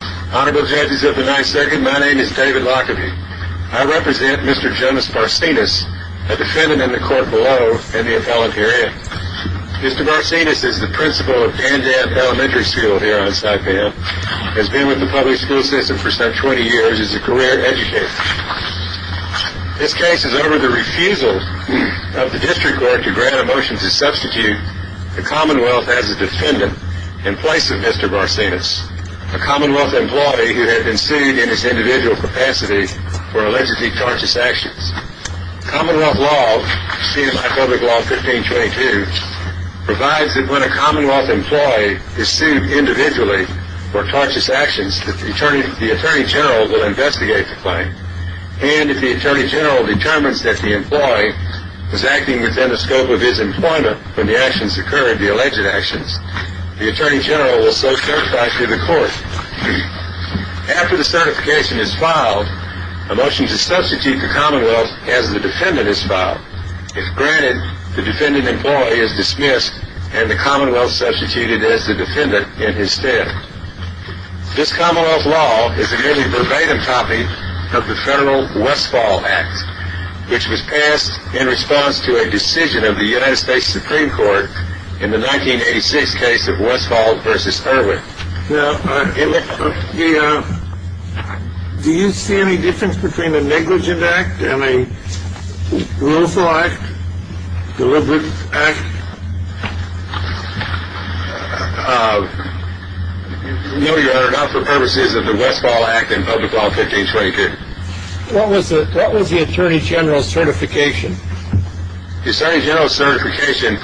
Honorable Judges of the 9th Circuit, my name is David Lockerbie. I represent Mr. Jonas Barsinas, a defendant in the court below in the appellant area. Mr. Barsinas is the principal of Dandab Elementary School here on Saipan, has been with the Public School System for some 20 years, is a career educator. This case is over the refusal of the District Court to grant a motion to substitute the Commonwealth as a defendant in place of Mr. Barsinas. A Commonwealth employee who had been sued in his individual capacity for allegedly tortious actions. Commonwealth law, CNMI Public Law 1522, provides that when a Commonwealth employee is sued individually for tortious actions, the Attorney General will investigate the claim. And if the Attorney General determines that the employee was acting within the scope of his employment when the actions occurred, the alleged actions, the Attorney General will so certify through the court. After the certification is filed, a motion to substitute the Commonwealth as the defendant is filed. If granted, the defendant employee is dismissed and the Commonwealth substituted as the defendant in his stead. This Commonwealth law is a nearly verbatim copy of the Federal Westfall Act, which was passed in response to a decision of the United States Supreme Court in the 1986 case of Westfall v. Irwin. Now, do you see any difference between a negligent act and a lawful act, deliberate act? No, Your Honor, not for purposes of the Westfall Act and Public Law 1522. What was the Attorney General's certification? The Attorney General's certification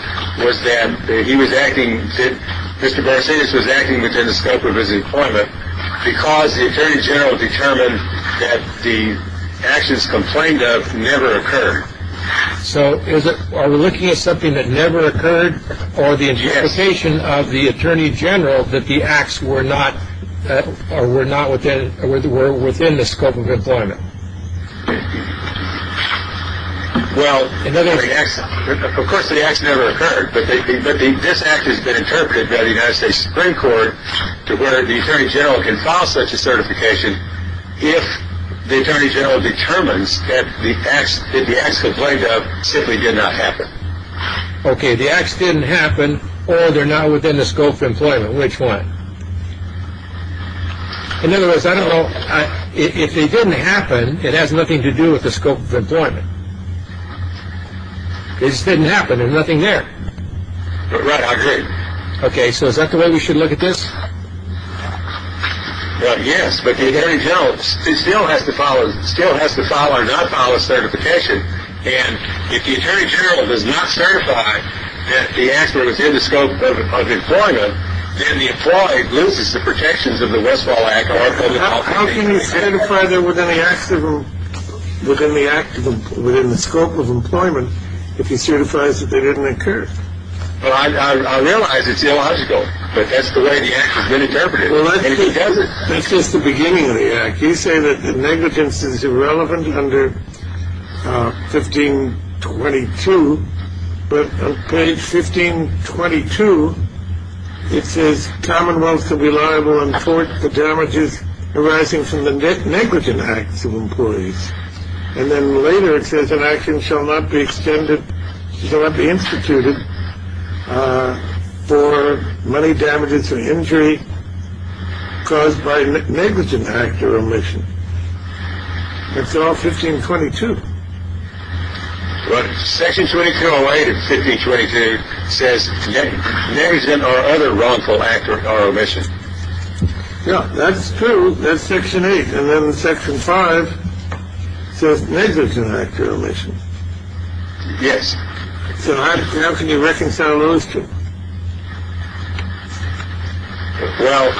was that he was acting, that Mr. Barsettis was acting within the scope of his employment because the Attorney General determined that the actions complained of never occurred. So are we looking at something that never occurred? Yes. Or the interpretation of the Attorney General that the acts were within the scope of employment? Well, of course the acts never occurred, but this act has been interpreted by the United States Supreme Court to where the Attorney General can file such a certification if the Attorney General determines that the acts complained of simply did not happen. Okay, the acts didn't happen or they're not within the scope of employment. Which one? In other words, I don't know. If they didn't happen, it has nothing to do with the scope of employment. It just didn't happen. There's nothing there. Right, I agree. Okay, so is that the way we should look at this? Yes, but the Attorney General still has to file or not file a certification, and if the Attorney General does not certify that the acts were within the scope of employment, then the employee loses the protections of the Westfall Act or public health. How can you certify they were within the scope of employment if he certifies that they didn't occur? Well, I realize it's illogical, but that's the way the act has been interpreted. Well, that's just the beginning of the act. You say that the negligence is irrelevant under 1522, but on page 1522 it says commonwealth shall be liable in court for damages arising from the negligent acts of employees. And then later it says an action shall not be extended, shall not be instituted for money damages or injury caused by negligent act or omission. It's all 1522. But section 2208 of 1522 says negligent or other wrongful act or omission. Yeah, that's true. That's section eight. And then section five says negligent act or omission. Yes. So how can you reconcile those two? Well,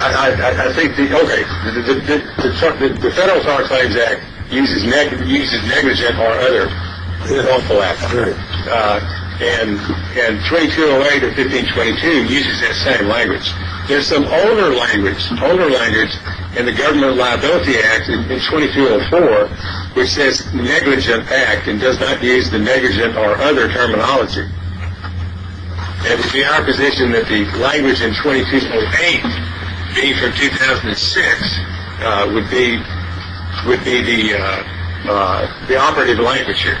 I think the Federal Far Claims Act uses negligent or other wrongful act. And 2208 of 1522 uses that same language. There's some older language, older language in the Government Liability Act in 2204, which says negligent act and does not use the negligent or other terminology. It would be our position that the language in 2208, being from 2006, would be the operative language here.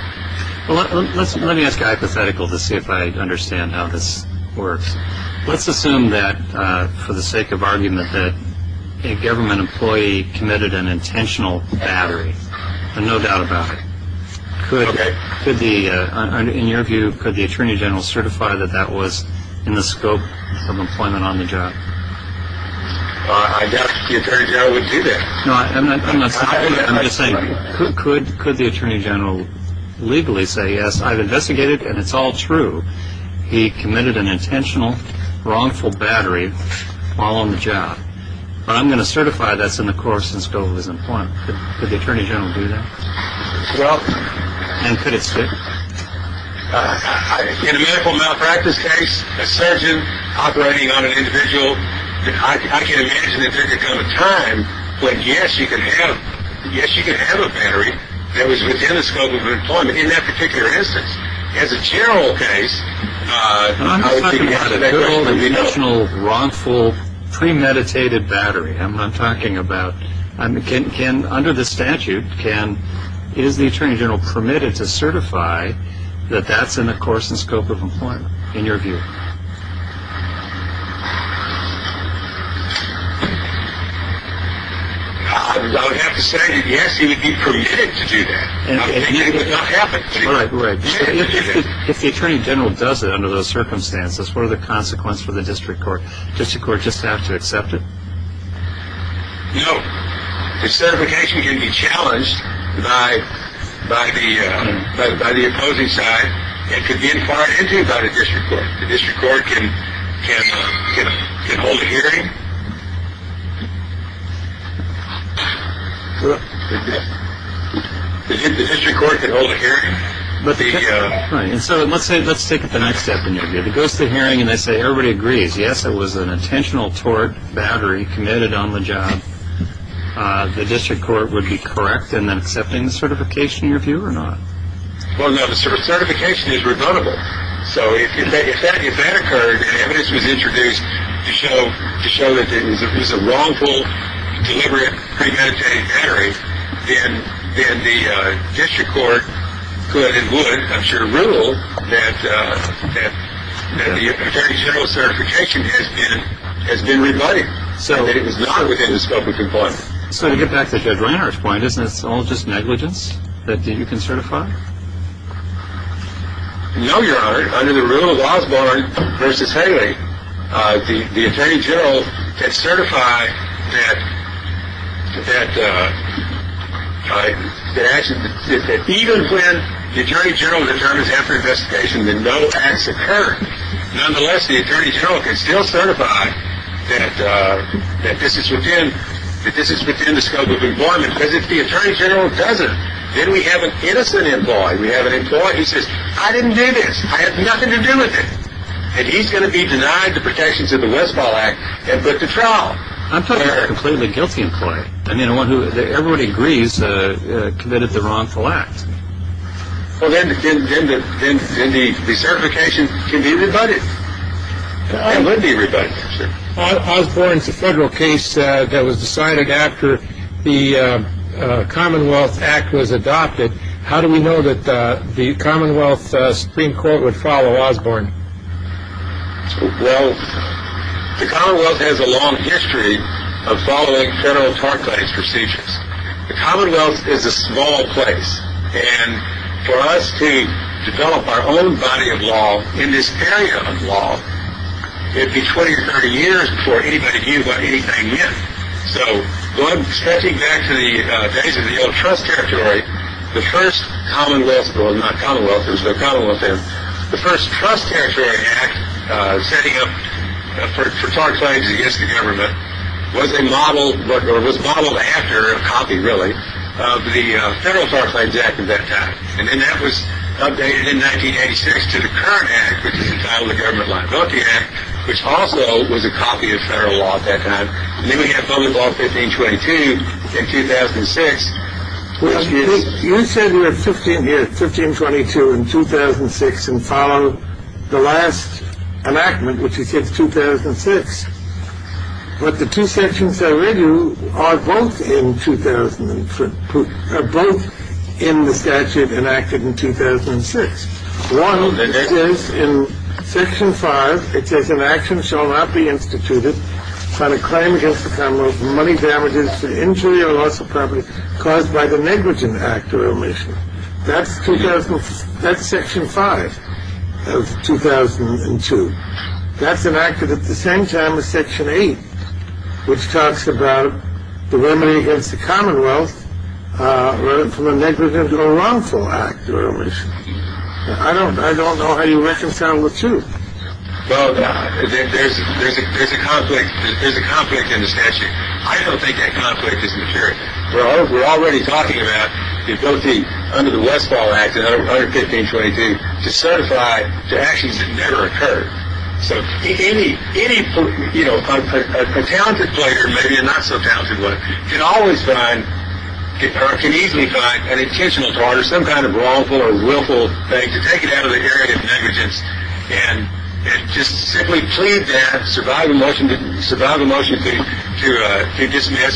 Well, let me ask a hypothetical to see if I understand how this works. Let's assume that for the sake of argument that a government employee committed an intentional battery. No doubt about it. In your view, could the attorney general certify that that was in the scope of employment on the job? I doubt the attorney general would do that. No, I'm not saying that. I'm just saying could the attorney general legally say, yes, I've investigated and it's all true. He committed an intentional wrongful battery while on the job. But I'm going to certify that's in the course and scope of his employment. Could the attorney general do that? Well, in a medical malpractice case, a surgeon operating on an individual, I can imagine that there could come a time when, yes, you could have a battery that was within the scope of your employment in that particular instance. But as a general case. I'm not talking about an intentional, wrongful, premeditated battery. I'm talking about, under the statute, is the attorney general permitted to certify that that's in the course and scope of employment, in your view? I would have to say yes, he would be permitted to do that. All right. If the attorney general does it under those circumstances, what are the consequences for the district court? Does the court just have to accept it? No. The certification can be challenged by the opposing side. It could be inquired into by the district court. The district court can hold a hearing. Right. And so let's say let's take it the next step in your view. It goes to the hearing and they say everybody agrees. Yes, it was an intentional tort battery committed on the job. The district court would be correct in accepting the certification, in your view, or not? Well, no. The certification is rebuttable. So to get back to Judge Reinhardt's point, isn't this all just negligence that you can certify? No, Your Honor. Under the rule of Osborne v. Haley, the attorney general can certify that even when the attorney general determines after investigation that no acts occurred, nonetheless the attorney general can still certify that this is within the scope of employment. Because if the attorney general doesn't, then we have an innocent employee. We have an employee who says, I didn't do this. I have nothing to do with it. And he's going to be denied the protections of the Westphal Act and put to trial. I'm talking about a completely guilty employee. I mean, one who everybody agrees committed the wrongful act. Well, then the certification can be rebutted. It would be rebutted. Osborne's a federal case that was decided after the Commonwealth Act was adopted. How do we know that the Commonwealth Supreme Court would follow Osborne? Well, the Commonwealth has a long history of following federal tort case procedures. The Commonwealth is a small place. And for us to develop our own body of law in this area of law, it would be 20 or 30 years before anybody knew what anything meant. So stretching back to the days of the old Trust Territory, the first Commonwealth Act setting up for tort claims against the government, was modeled after a copy, really, of the Federal Tort Claims Act at that time. And then that was updated in 1986 to the current act, which is entitled the Government Liability Act, which also was a copy of federal law at that time. And then we have Public Law 1522 in 2006. You said you had 1522 in 2006 and followed the last enactment, which you said 2006. But the two sections I read you are both in the statute enacted in 2006. One is in Section 5. It says, Section 5 of 2002. That's enacted at the same time as Section 8, which talks about the remedy against the Commonwealth from a negligent or wrongful act or omission. I don't know how you reconcile the two. Well, there's a conflict in the statute. I don't think that conflict is material. We're already talking about the ability under the Westfall Act, under 1522, to certify to actions that never occurred. So any, you know, a talented player, maybe a not-so-talented one, can always find or can easily find an intentional tort or some kind of wrongful or willful thing to take it out of the area of negligence and just simply plead to survive a motion to dismiss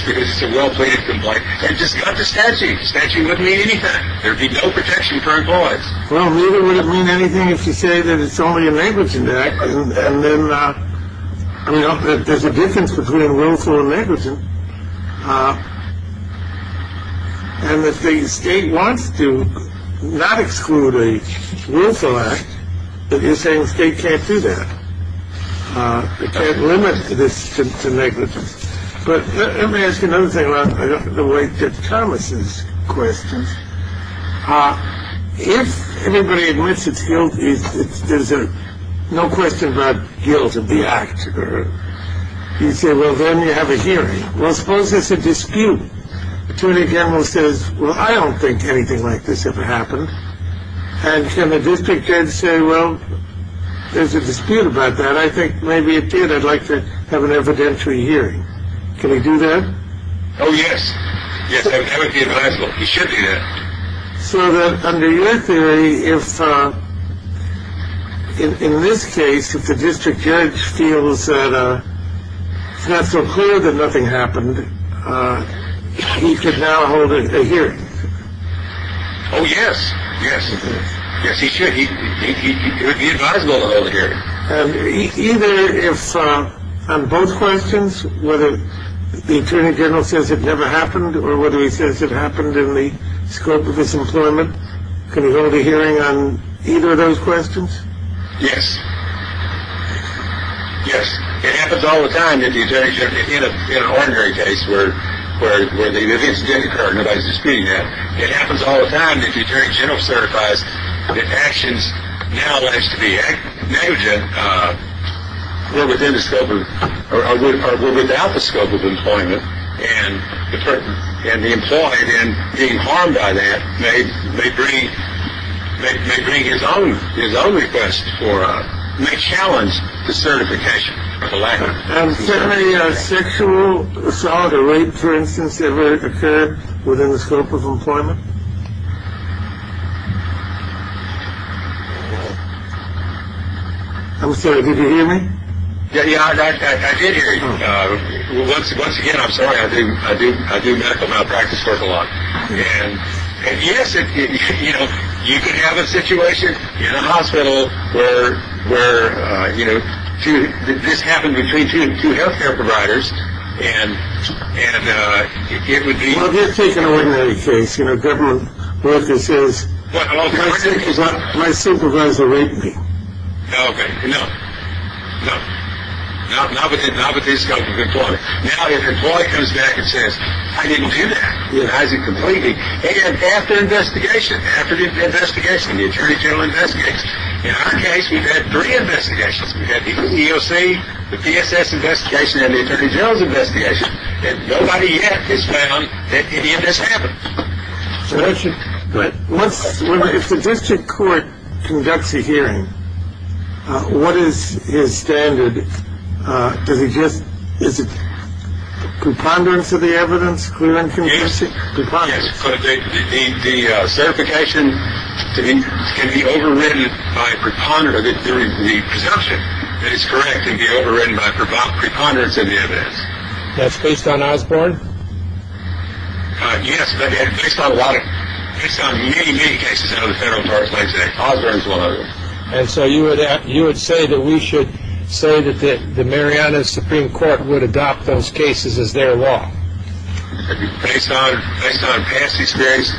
because it's a well-pleaded complaint and just cut the statute. The statute wouldn't mean anything. There would be no protection for our cause. Well, neither would it mean anything if you say that it's only a negligent act. And then, you know, there's a difference between willful and negligent. And if the state wants to not exclude a willful act, then you're saying the state can't do that. It can't limit this to negligence. But let me ask you another thing about the way that Thomas's questions. If everybody admits it's guilty, there's no question about guilt of the act. You say, well, then you have a hearing. Well, suppose there's a dispute. Attorney General says, well, I don't think anything like this ever happened. And can the district judge say, well, there's a dispute about that. I think maybe it did. I'd like to have an evidentiary hearing. Can he do that? Oh, yes. Yes, that would be advisable. He should do that. So that under your theory, if in this case, if the district judge feels that it's not so clear that nothing happened, he could now hold a hearing. Oh, yes. Yes. Yes, he should. Either if on both questions, whether the attorney general says it never happened or whether he says it happened in the scope of this employment, can he hold a hearing on either of those questions? Yes. Yes. It happens all the time that the attorney general, in an ordinary case where the incident occurred. Nobody's disputing that. It happens all the time that the attorney general certifies that actions now alleged to be negligent were within the scope of or were without the scope of employment. And the employee then being harmed by that may bring his own request for, may challenge the certification. Has sexual assault or rape, for instance, ever occurred within the scope of employment? I'm sorry, did you hear me? Yeah, I did hear you. Once again, I'm sorry. And yes, you can have a situation in a hospital where this happened between two health care providers and it would be. Well, let's take an ordinary case. A government worker says, my supervisor raped me. Okay, no. No. Not within the scope of employment. Now, if an employee comes back and says, I didn't do that. He denies it completely. And after investigation, after the investigation, the attorney general investigates. In our case, we've had three investigations. We've had the EOC, the PSS investigation, and the attorney general's investigation. And nobody yet has found that any of this happened. But once the district court conducts a hearing, what is his standard? Does he just is it preponderance of the evidence? Yes. The certification can be overwritten by preponderance of the presumption. That is correct. It can be overwritten by preponderance of the evidence. That's based on Osborne? Yes. Based on what? Based on many, many cases under the Federal Tariffs Act. Osborne is one of them. And so you would say that we should say that the Mariana Supreme Court would adopt those cases as their law? Based on past experience.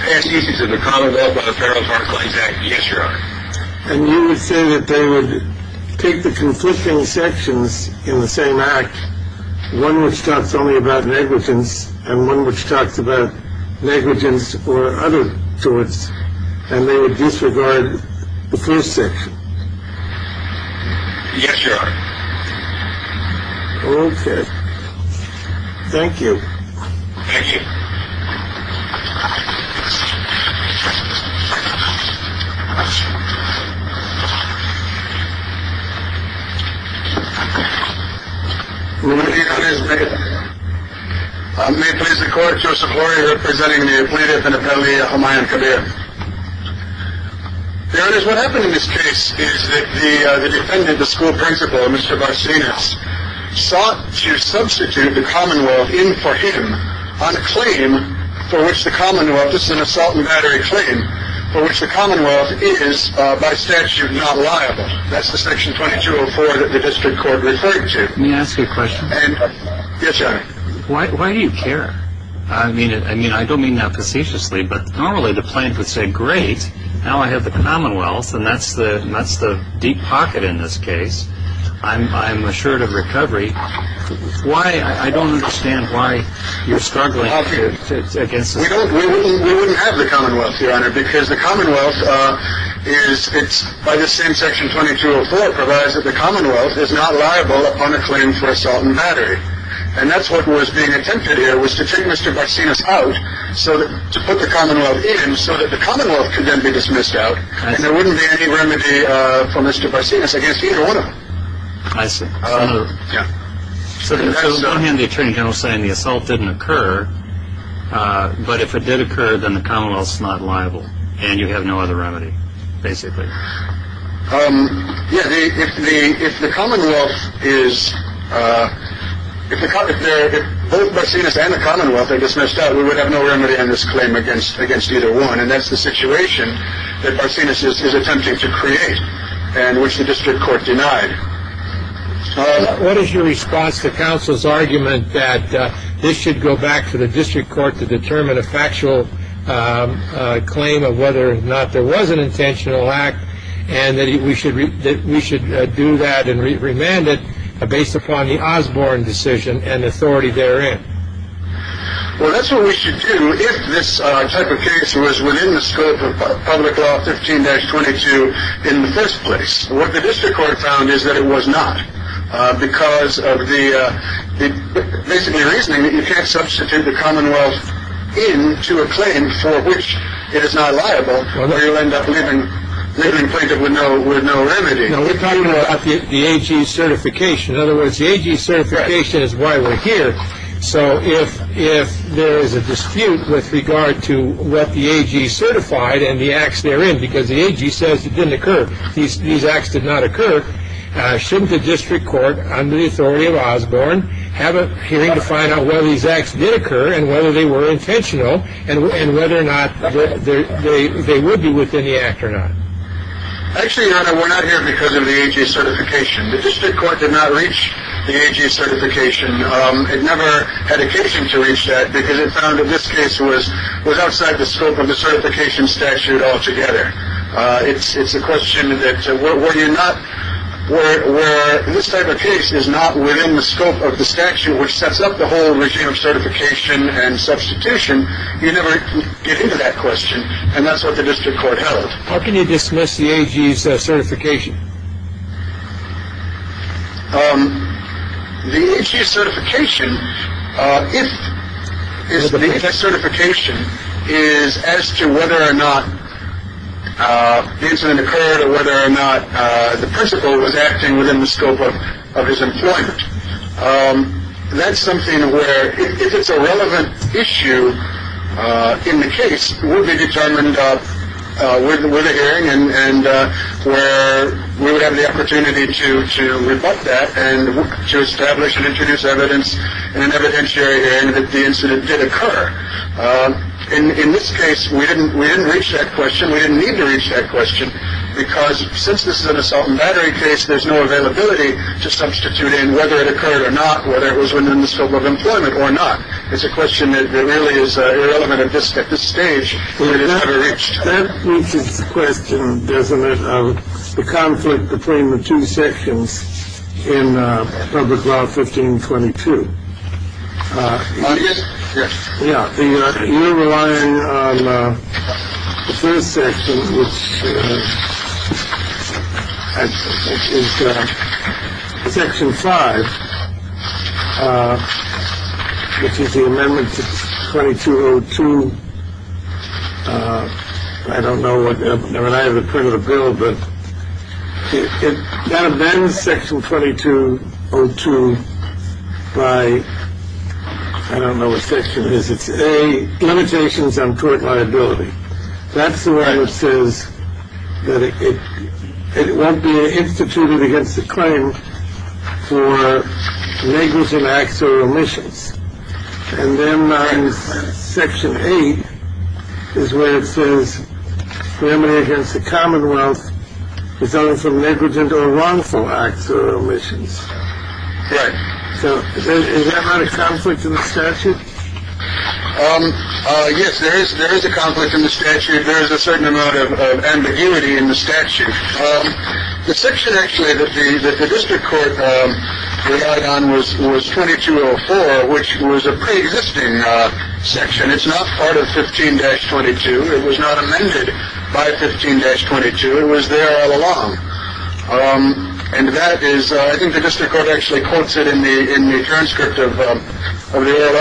Past experience of the Commonwealth under the Federal Tariffs Act. Yes, Your Honor. And you would say that they would take the conflicting sections in the same act, one which talks only about negligence and one which talks about negligence or other torts, and they would disregard the first section? Yes, Your Honor. Okay. Thank you. Thank you. May it please the Court, Joseph Loria representing the plaintiff and appellee, Jomayan Kabir. Your Honor, what happened in this case is that the defendant, the school principal, Mr. Barsinas, sought to substitute the Commonwealth in for him on a claim for which the Commonwealth, this is an assault and battery claim, for which the Commonwealth is by statute not liable. That's the section 2204 that the district court referred to. May I ask you a question? Yes, Your Honor. Why do you care? I mean, I don't mean that facetiously, but normally the plaintiff would say, great, now I have the Commonwealth, and that's the deep pocket in this case. I'm assured of recovery. I don't understand why you're struggling against this. We wouldn't have the Commonwealth, Your Honor, because the Commonwealth is, by this same section 2204, provides that the Commonwealth is not liable upon a claim for assault and battery. And that's what was being attempted here was to take Mr. Barsinas out, to put the Commonwealth in so that the Commonwealth could then be dismissed out, and there wouldn't be any remedy for Mr. Barsinas against either one of them. I see. So on the one hand the Attorney General is saying the assault didn't occur, but if it did occur, then the Commonwealth is not liable, and you have no other remedy, basically. Yeah, if the Commonwealth is, if both Barsinas and the Commonwealth are dismissed out, we would have no remedy on this claim against either one, and that's the situation that Barsinas is attempting to create, and which the district court denied. What is your response to counsel's argument that this should go back to the district court to determine a factual claim of whether or not there was an intentional act, and that we should do that and remand it based upon the Osborne decision and authority therein? Well, that's what we should do if this type of case was within the scope of public law 15-22 in the first place. What the district court found is that it was not, because of the basically reasoning that you can't substitute the Commonwealth in to a claim for which it is not liable, or you'll end up living plaintiff with no remedy. No, we're talking about the AG certification. In other words, the AG certification is why we're here. So if there is a dispute with regard to what the AG certified and the acts therein, because the AG says it didn't occur, these acts did not occur, shouldn't the district court, under the authority of Osborne, have a hearing to find out whether these acts did occur and whether they were intentional, and whether or not they would be within the act or not? Actually, Your Honor, we're not here because of the AG certification. The district court did not reach the AG certification. It never had occasion to reach that, because it found that this case was outside the scope of the certification statute altogether. It's a question that where you're not, where this type of case is not within the scope of the statute which sets up the whole regime of certification and substitution, you never get into that question. And that's what the district court held. How can you dismiss the AG certification? The AG certification, if the certification is as to whether or not the incident occurred or whether or not the principal was acting within the scope of his employment, that's something where if it's a relevant issue in the case, we'll be determined with a hearing and where we would have the opportunity to rebut that and to establish and introduce evidence in an evidentiary hearing that the incident did occur. In this case, we didn't reach that question. We didn't need to reach that question, because since this is an assault and battery case, there's no availability to substitute in whether it occurred or not, whether it was within the scope of employment or not. It's a question that really is irrelevant. And just at this stage, we just haven't reached that question, doesn't it? The conflict between the two sections in public law 1522. Yeah. You're relying on the first section, which is section five, which is the amendment to 2202. I don't know what I have in front of the bill, but that amends section 2202 by. I don't know what section it is. It's a limitations on tort liability. That's the one that says that it won't be instituted against the claim for negligent acts or omissions. And then section eight is where it says family against the Commonwealth is done from negligent or wrongful acts or omissions. Right. So is that not a conflict in the statute? Yes, there is. There is a conflict in the statute. There is a certain amount of ambiguity in the statute. The section actually that the district court relied on was was 2204, which was a preexisting section. It's not part of 15 dash 22. It was not amended by 15 dash 22. It was there all along. And that is I think the district court actually quotes it in the in the transcript of the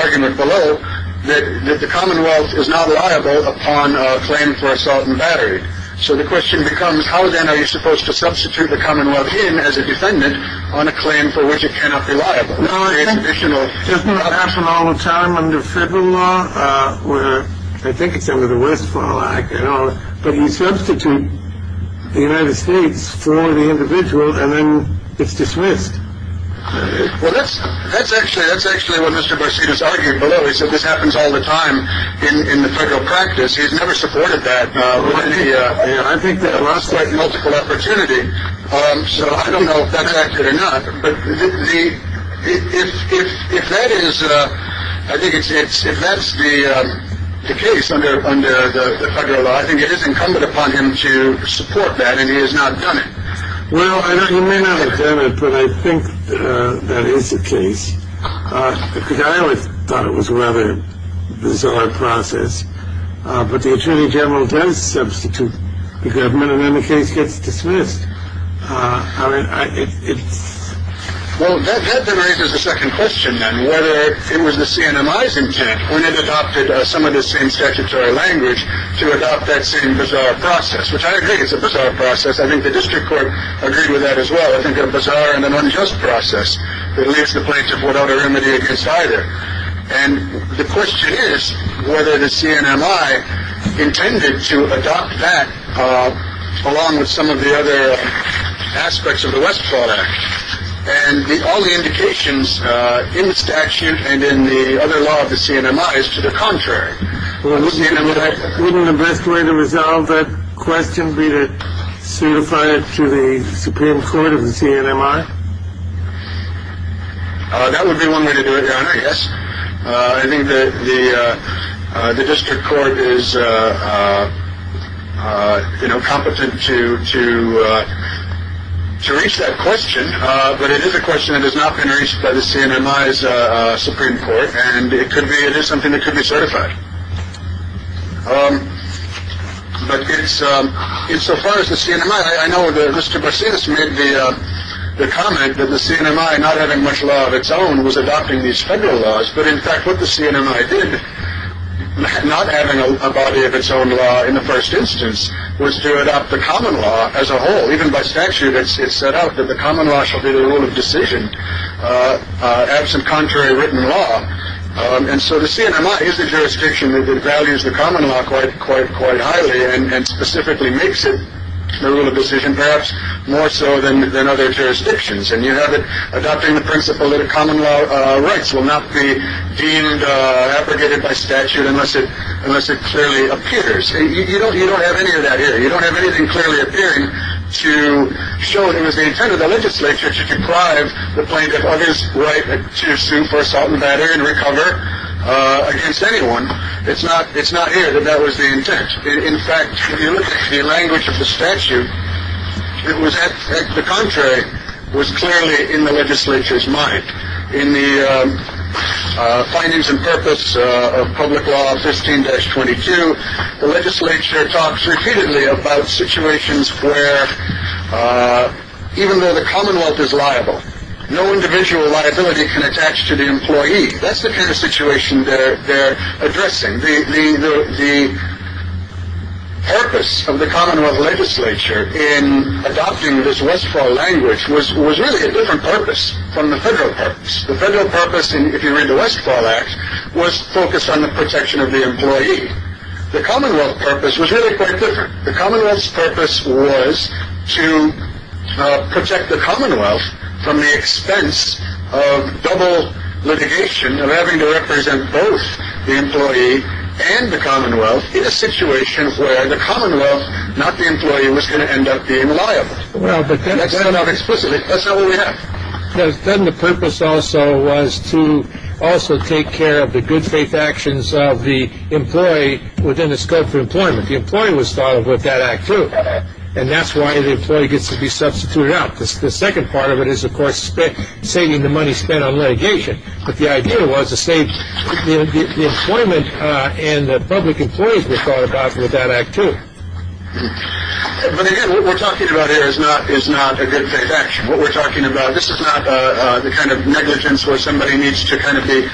argument below that the Commonwealth is not liable upon a claim for assault and battery. So the question becomes, how then are you supposed to substitute the Commonwealth in as a defendant on a claim for which it cannot be liable? Doesn't happen all the time under federal law where I think it's under the Westfall Act. You know, but you substitute the United States for the individual and then it's dismissed. Well, that's that's actually that's actually what Mr. Barsett is arguing below. So this happens all the time in the federal practice. He's never supported that. I think there are multiple opportunity. So I don't know if that's accurate or not. But if that is I think it's if that's the case under the federal law, I think it is incumbent upon him to support that. And he has not done it. Well, I know you may not have done it, but I think that is the case. I always thought it was a rather bizarre process. But the attorney general does substitute the government and then the case gets dismissed. I mean, it's. Well, that raises a second question. And whether it was the CNMI's intent when it adopted some of the same statutory language to adopt that same bizarre process, which I agree is a bizarre process. I think the district court agreed with that as well. I think a bizarre and an unjust process. It leaves the plaintiff without a remedy against either. And the question is whether the CNMI intended to adopt that. Along with some of the other aspects of the Westport Act and all the indications in the statute and in the other law of the CNMI is to the contrary. Wouldn't the best way to resolve that question be to certify it to the Supreme Court of the CNMI? That would be one way to do it. Yes. I think that the district court is competent to to to reach that question. But it is a question that has not been reached by the CNMI Supreme Court. And it could be it is something that could be certified. But it's it's so far as the CNMI. I know that Mr. Bases made the comment that the CNMI not having much love its own was adopting these federal laws. But in fact, what the CNMI did not having a body of its own law in the first instance was to adopt the common law as a whole. Even by statute, it's set out that the common law shall be the rule of decision absent contrary written law. And so the CNMI is the jurisdiction that values the common law quite, quite, quite highly and specifically makes it the rule of decision, perhaps more so than other jurisdictions. And you have it adopting the principle that a common law rights will not be deemed abrogated by statute unless it unless it clearly appears. You don't you don't have any of that here. You don't have anything clearly appearing to show that it was the intent of the legislature to deprive the plaintiff of his right to sue for assault and battery and recover against anyone. It's not it's not here that that was the intent. In fact, if you look at the language of the statute, it was that the contrary was clearly in the legislature's mind. In the findings and purpose of public law, 15 dash 22, the legislature talks repeatedly about situations where even though the Commonwealth is liable, no individual liability can attach to the employee. That's the kind of situation that they're addressing. The purpose of the Commonwealth legislature in adopting this Westfall language was was really a different purpose from the federal purpose. The federal purpose, if you read the Westfall Act, was focused on the protection of the employee. The Commonwealth purpose was really quite different. The Commonwealth's purpose was to protect the Commonwealth from the expense of double litigation, of having to represent both the employee and the Commonwealth in a situation where the Commonwealth, not the employee, was going to end up being liable. But that's not explicitly. That's not what we have. Then the purpose also was to also take care of the good faith actions of the employee within the scope for employment. The employee was thought of with that act, too. And that's why the employee gets to be substituted out. The second part of it is, of course, saving the money spent on litigation. But the idea was to save the employment and the public employees were thought about with that act, too. But again, what we're talking about here is not is not a good faith action. What we're talking about, this is not the kind of negligence where somebody needs to kind of be.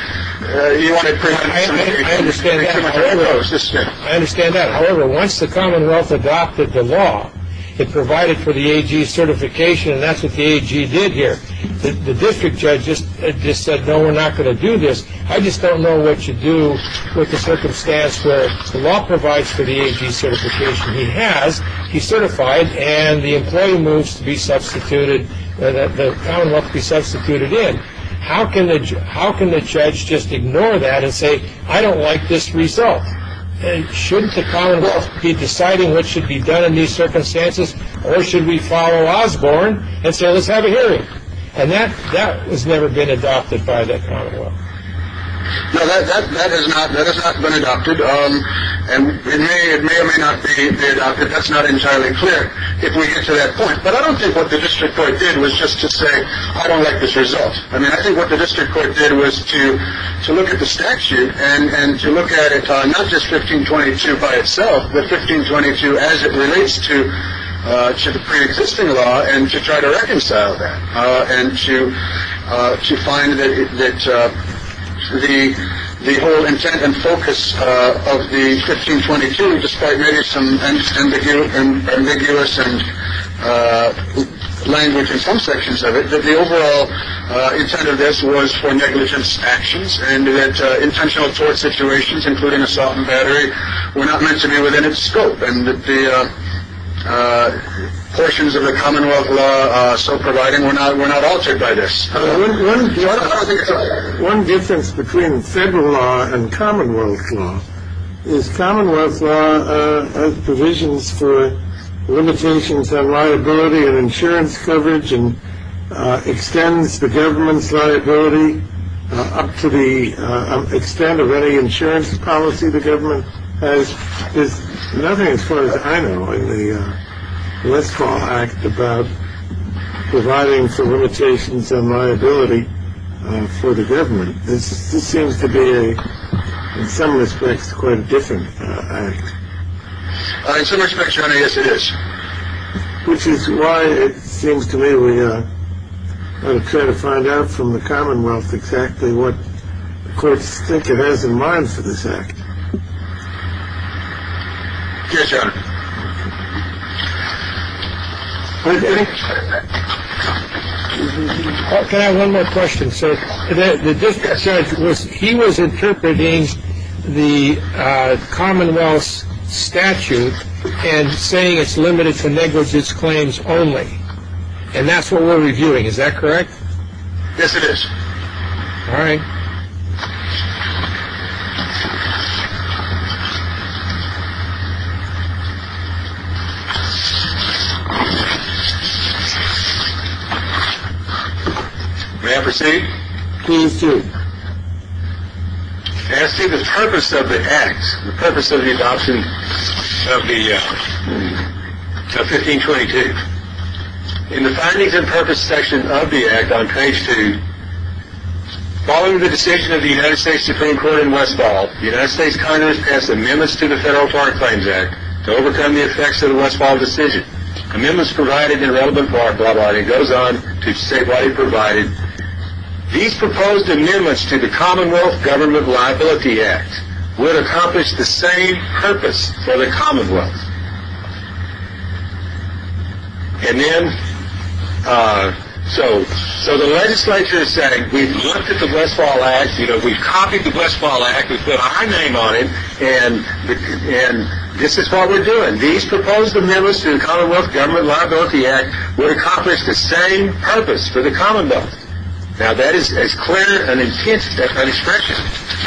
I understand that. However, once the Commonwealth adopted the law, it provided for the certification. And that's what the AG did here. The district judge just said, no, we're not going to do this. I just don't know what you do with the circumstance where the law provides for the certification. He has he certified and the employee moves to be substituted. The Commonwealth be substituted in. How can the how can the judge just ignore that and say, I don't like this result? And shouldn't the Commonwealth be deciding what should be done in these circumstances? Or should we follow Osborne and say, let's have a hearing? And that that was never been adopted by the Commonwealth. No, that is not that has not been adopted. And it may or may not be. That's not entirely clear if we get to that point. But I don't think what the district court did was just to say, I don't like this result. I mean, I think what the district court did was to to look at the statute and to look at it. Not just 1522 by itself, but 1522 as it relates to the preexisting law and to try to reconcile that. And to to find that the the whole intent and focus of the 1522, despite some ambiguous and ambiguous and language in some sections of it, that the overall intent of this was for negligence actions and that intentional tort situations, including assault and battery, were not meant to be within its scope. And the portions of the Commonwealth law so providing we're not we're not altered by this. One difference between federal law and Commonwealth law is Commonwealth provisions for limitations on liability and insurance coverage and extends the government's liability up to the extent of any insurance policy. The government has nothing as far as I know in the Westfall Act about providing for limitations on liability for the government. This seems to be in some respects quite different. In some respects, yes, it is. Which is why it seems to me we are trying to find out from the Commonwealth exactly what courts think it has in mind for this act. Yes, Your Honor. One more question, sir. He was interpreting the Commonwealth statute and saying it's limited to negligence claims only. And that's what we're reviewing. Is that correct? Yes, it is. May I proceed? Please do. As to the purpose of the act, the purpose of the adoption of the 1522. In the findings and purpose section of the act on page two, following the decision of the United States Supreme Court in Westfall, the United States Congress passed amendments to the Federal Foreign Claims Act to overcome the effects of the Westfall decision. Amendments provided in relevant foreign law, it goes on to say what it provided. These proposed amendments to the Commonwealth Government Liability Act would accomplish the same purpose for the Commonwealth. And then, so the legislature is saying we've looked at the Westfall Act, you know, we've copied the Westfall Act, we've put our name on it, and this is what we're doing. These proposed amendments to the Commonwealth Government Liability Act would accomplish the same purpose for the Commonwealth. Now that is as clear an expression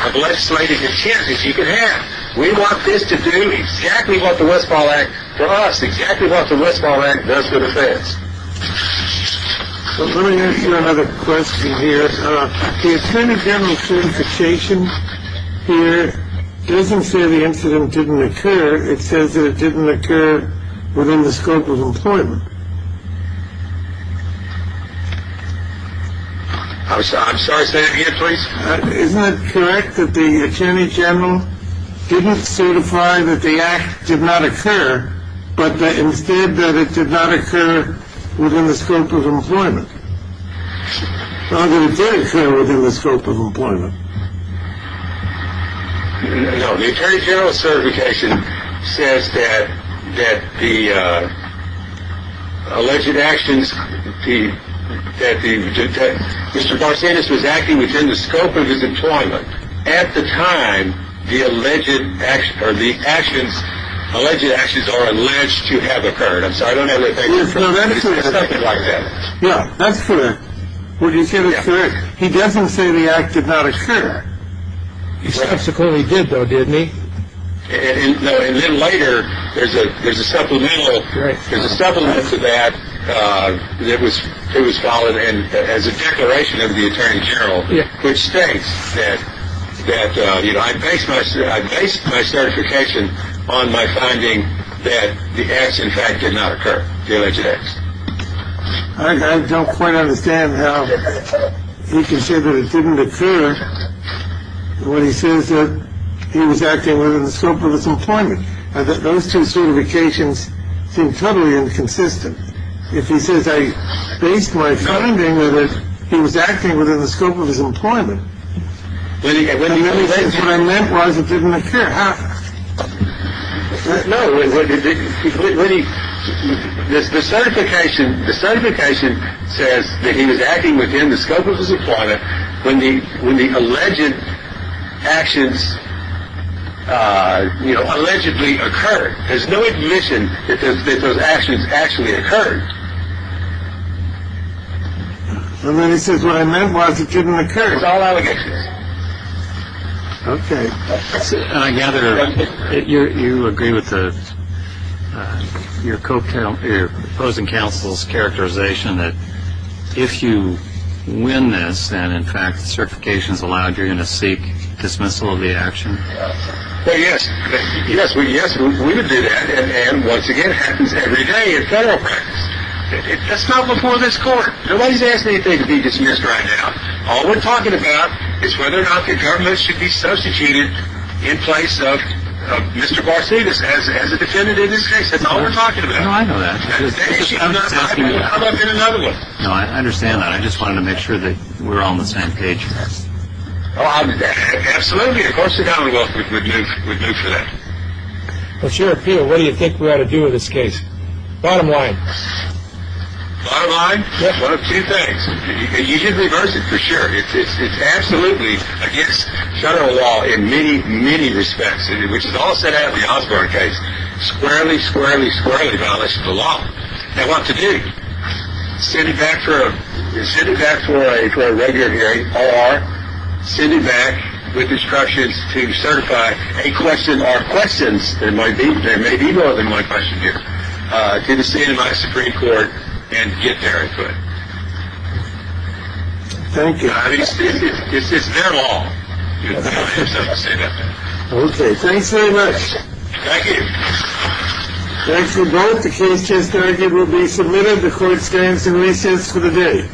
of legislative enchantment as you can have. We want this to do exactly what the Westfall Act does, exactly what the Westfall Act does for the feds. Let me ask you another question here. The Attorney General's certification here doesn't say the incident didn't occur. It says that it didn't occur within the scope of employment. I'm sorry, say that again, please. Isn't it correct that the Attorney General didn't certify that the act did not occur, but instead that it did not occur within the scope of employment? How did it occur within the scope of employment? No, the Attorney General's certification says that the alleged actions, that Mr. Barsanis was acting within the scope of his employment at the time the alleged action, or the actions, alleged actions are alleged to have occurred. I'm sorry, I don't have anything to say about that. No, that's correct. He doesn't say the act did not occur. He subsequently did, though, didn't he? And then later, there's a supplemental to that that was followed as a declaration of the Attorney General, which states that, you know, I based my certification on my finding that the acts, in fact, did not occur. The alleged acts. I don't quite understand how he can say that it didn't occur when he says that he was acting within the scope of his employment. Those two certifications seem totally inconsistent. If he says I based my finding that he was acting within the scope of his employment. And when he says what I meant was it didn't occur, how? No, when he, the certification, the certification says that he was acting within the scope of his employment when the, when the alleged actions, you know, allegedly occurred. There's no admission that those actions actually occurred. And then he says what I meant was it didn't occur. It was all allegations. Okay. And I gather you agree with your opposing counsel's characterization that if you win this, then, in fact, the certifications allowed you to seek dismissal of the action. Well, yes. Yes, we, yes, we would do that. And once again, it happens every day in federal practice. That's not before this court. Nobody's asking anything to be dismissed right now. All we're talking about is whether or not the government should be substituted in place of Mr. Garcetis as a defendant in this case. That's all we're talking about. No, I know that. Actually, I'm not asking you that. How about in another one? No, I understand that. I just wanted to make sure that we're all on the same page. Absolutely. Of course the government would move for that. What's your appeal? What do you think we ought to do with this case? Bottom line. Bottom line? Yes. One of two things. You should reverse it for sure. It's absolutely against federal law in many, many respects, which is all set out in the Osborne case. Squarely, squarely, squarely violations of the law. Now, what to do? Send it back for a regular hearing or send it back with instructions to certify a question or questions, there may be more than one question here, to the state of my Supreme Court and get their input. Thank you. I mean, it's their law. I have something to say about that. Okay. Thanks very much. Thank you. Thanks to both. The case just now will be submitted. The Court stands in recess for the day.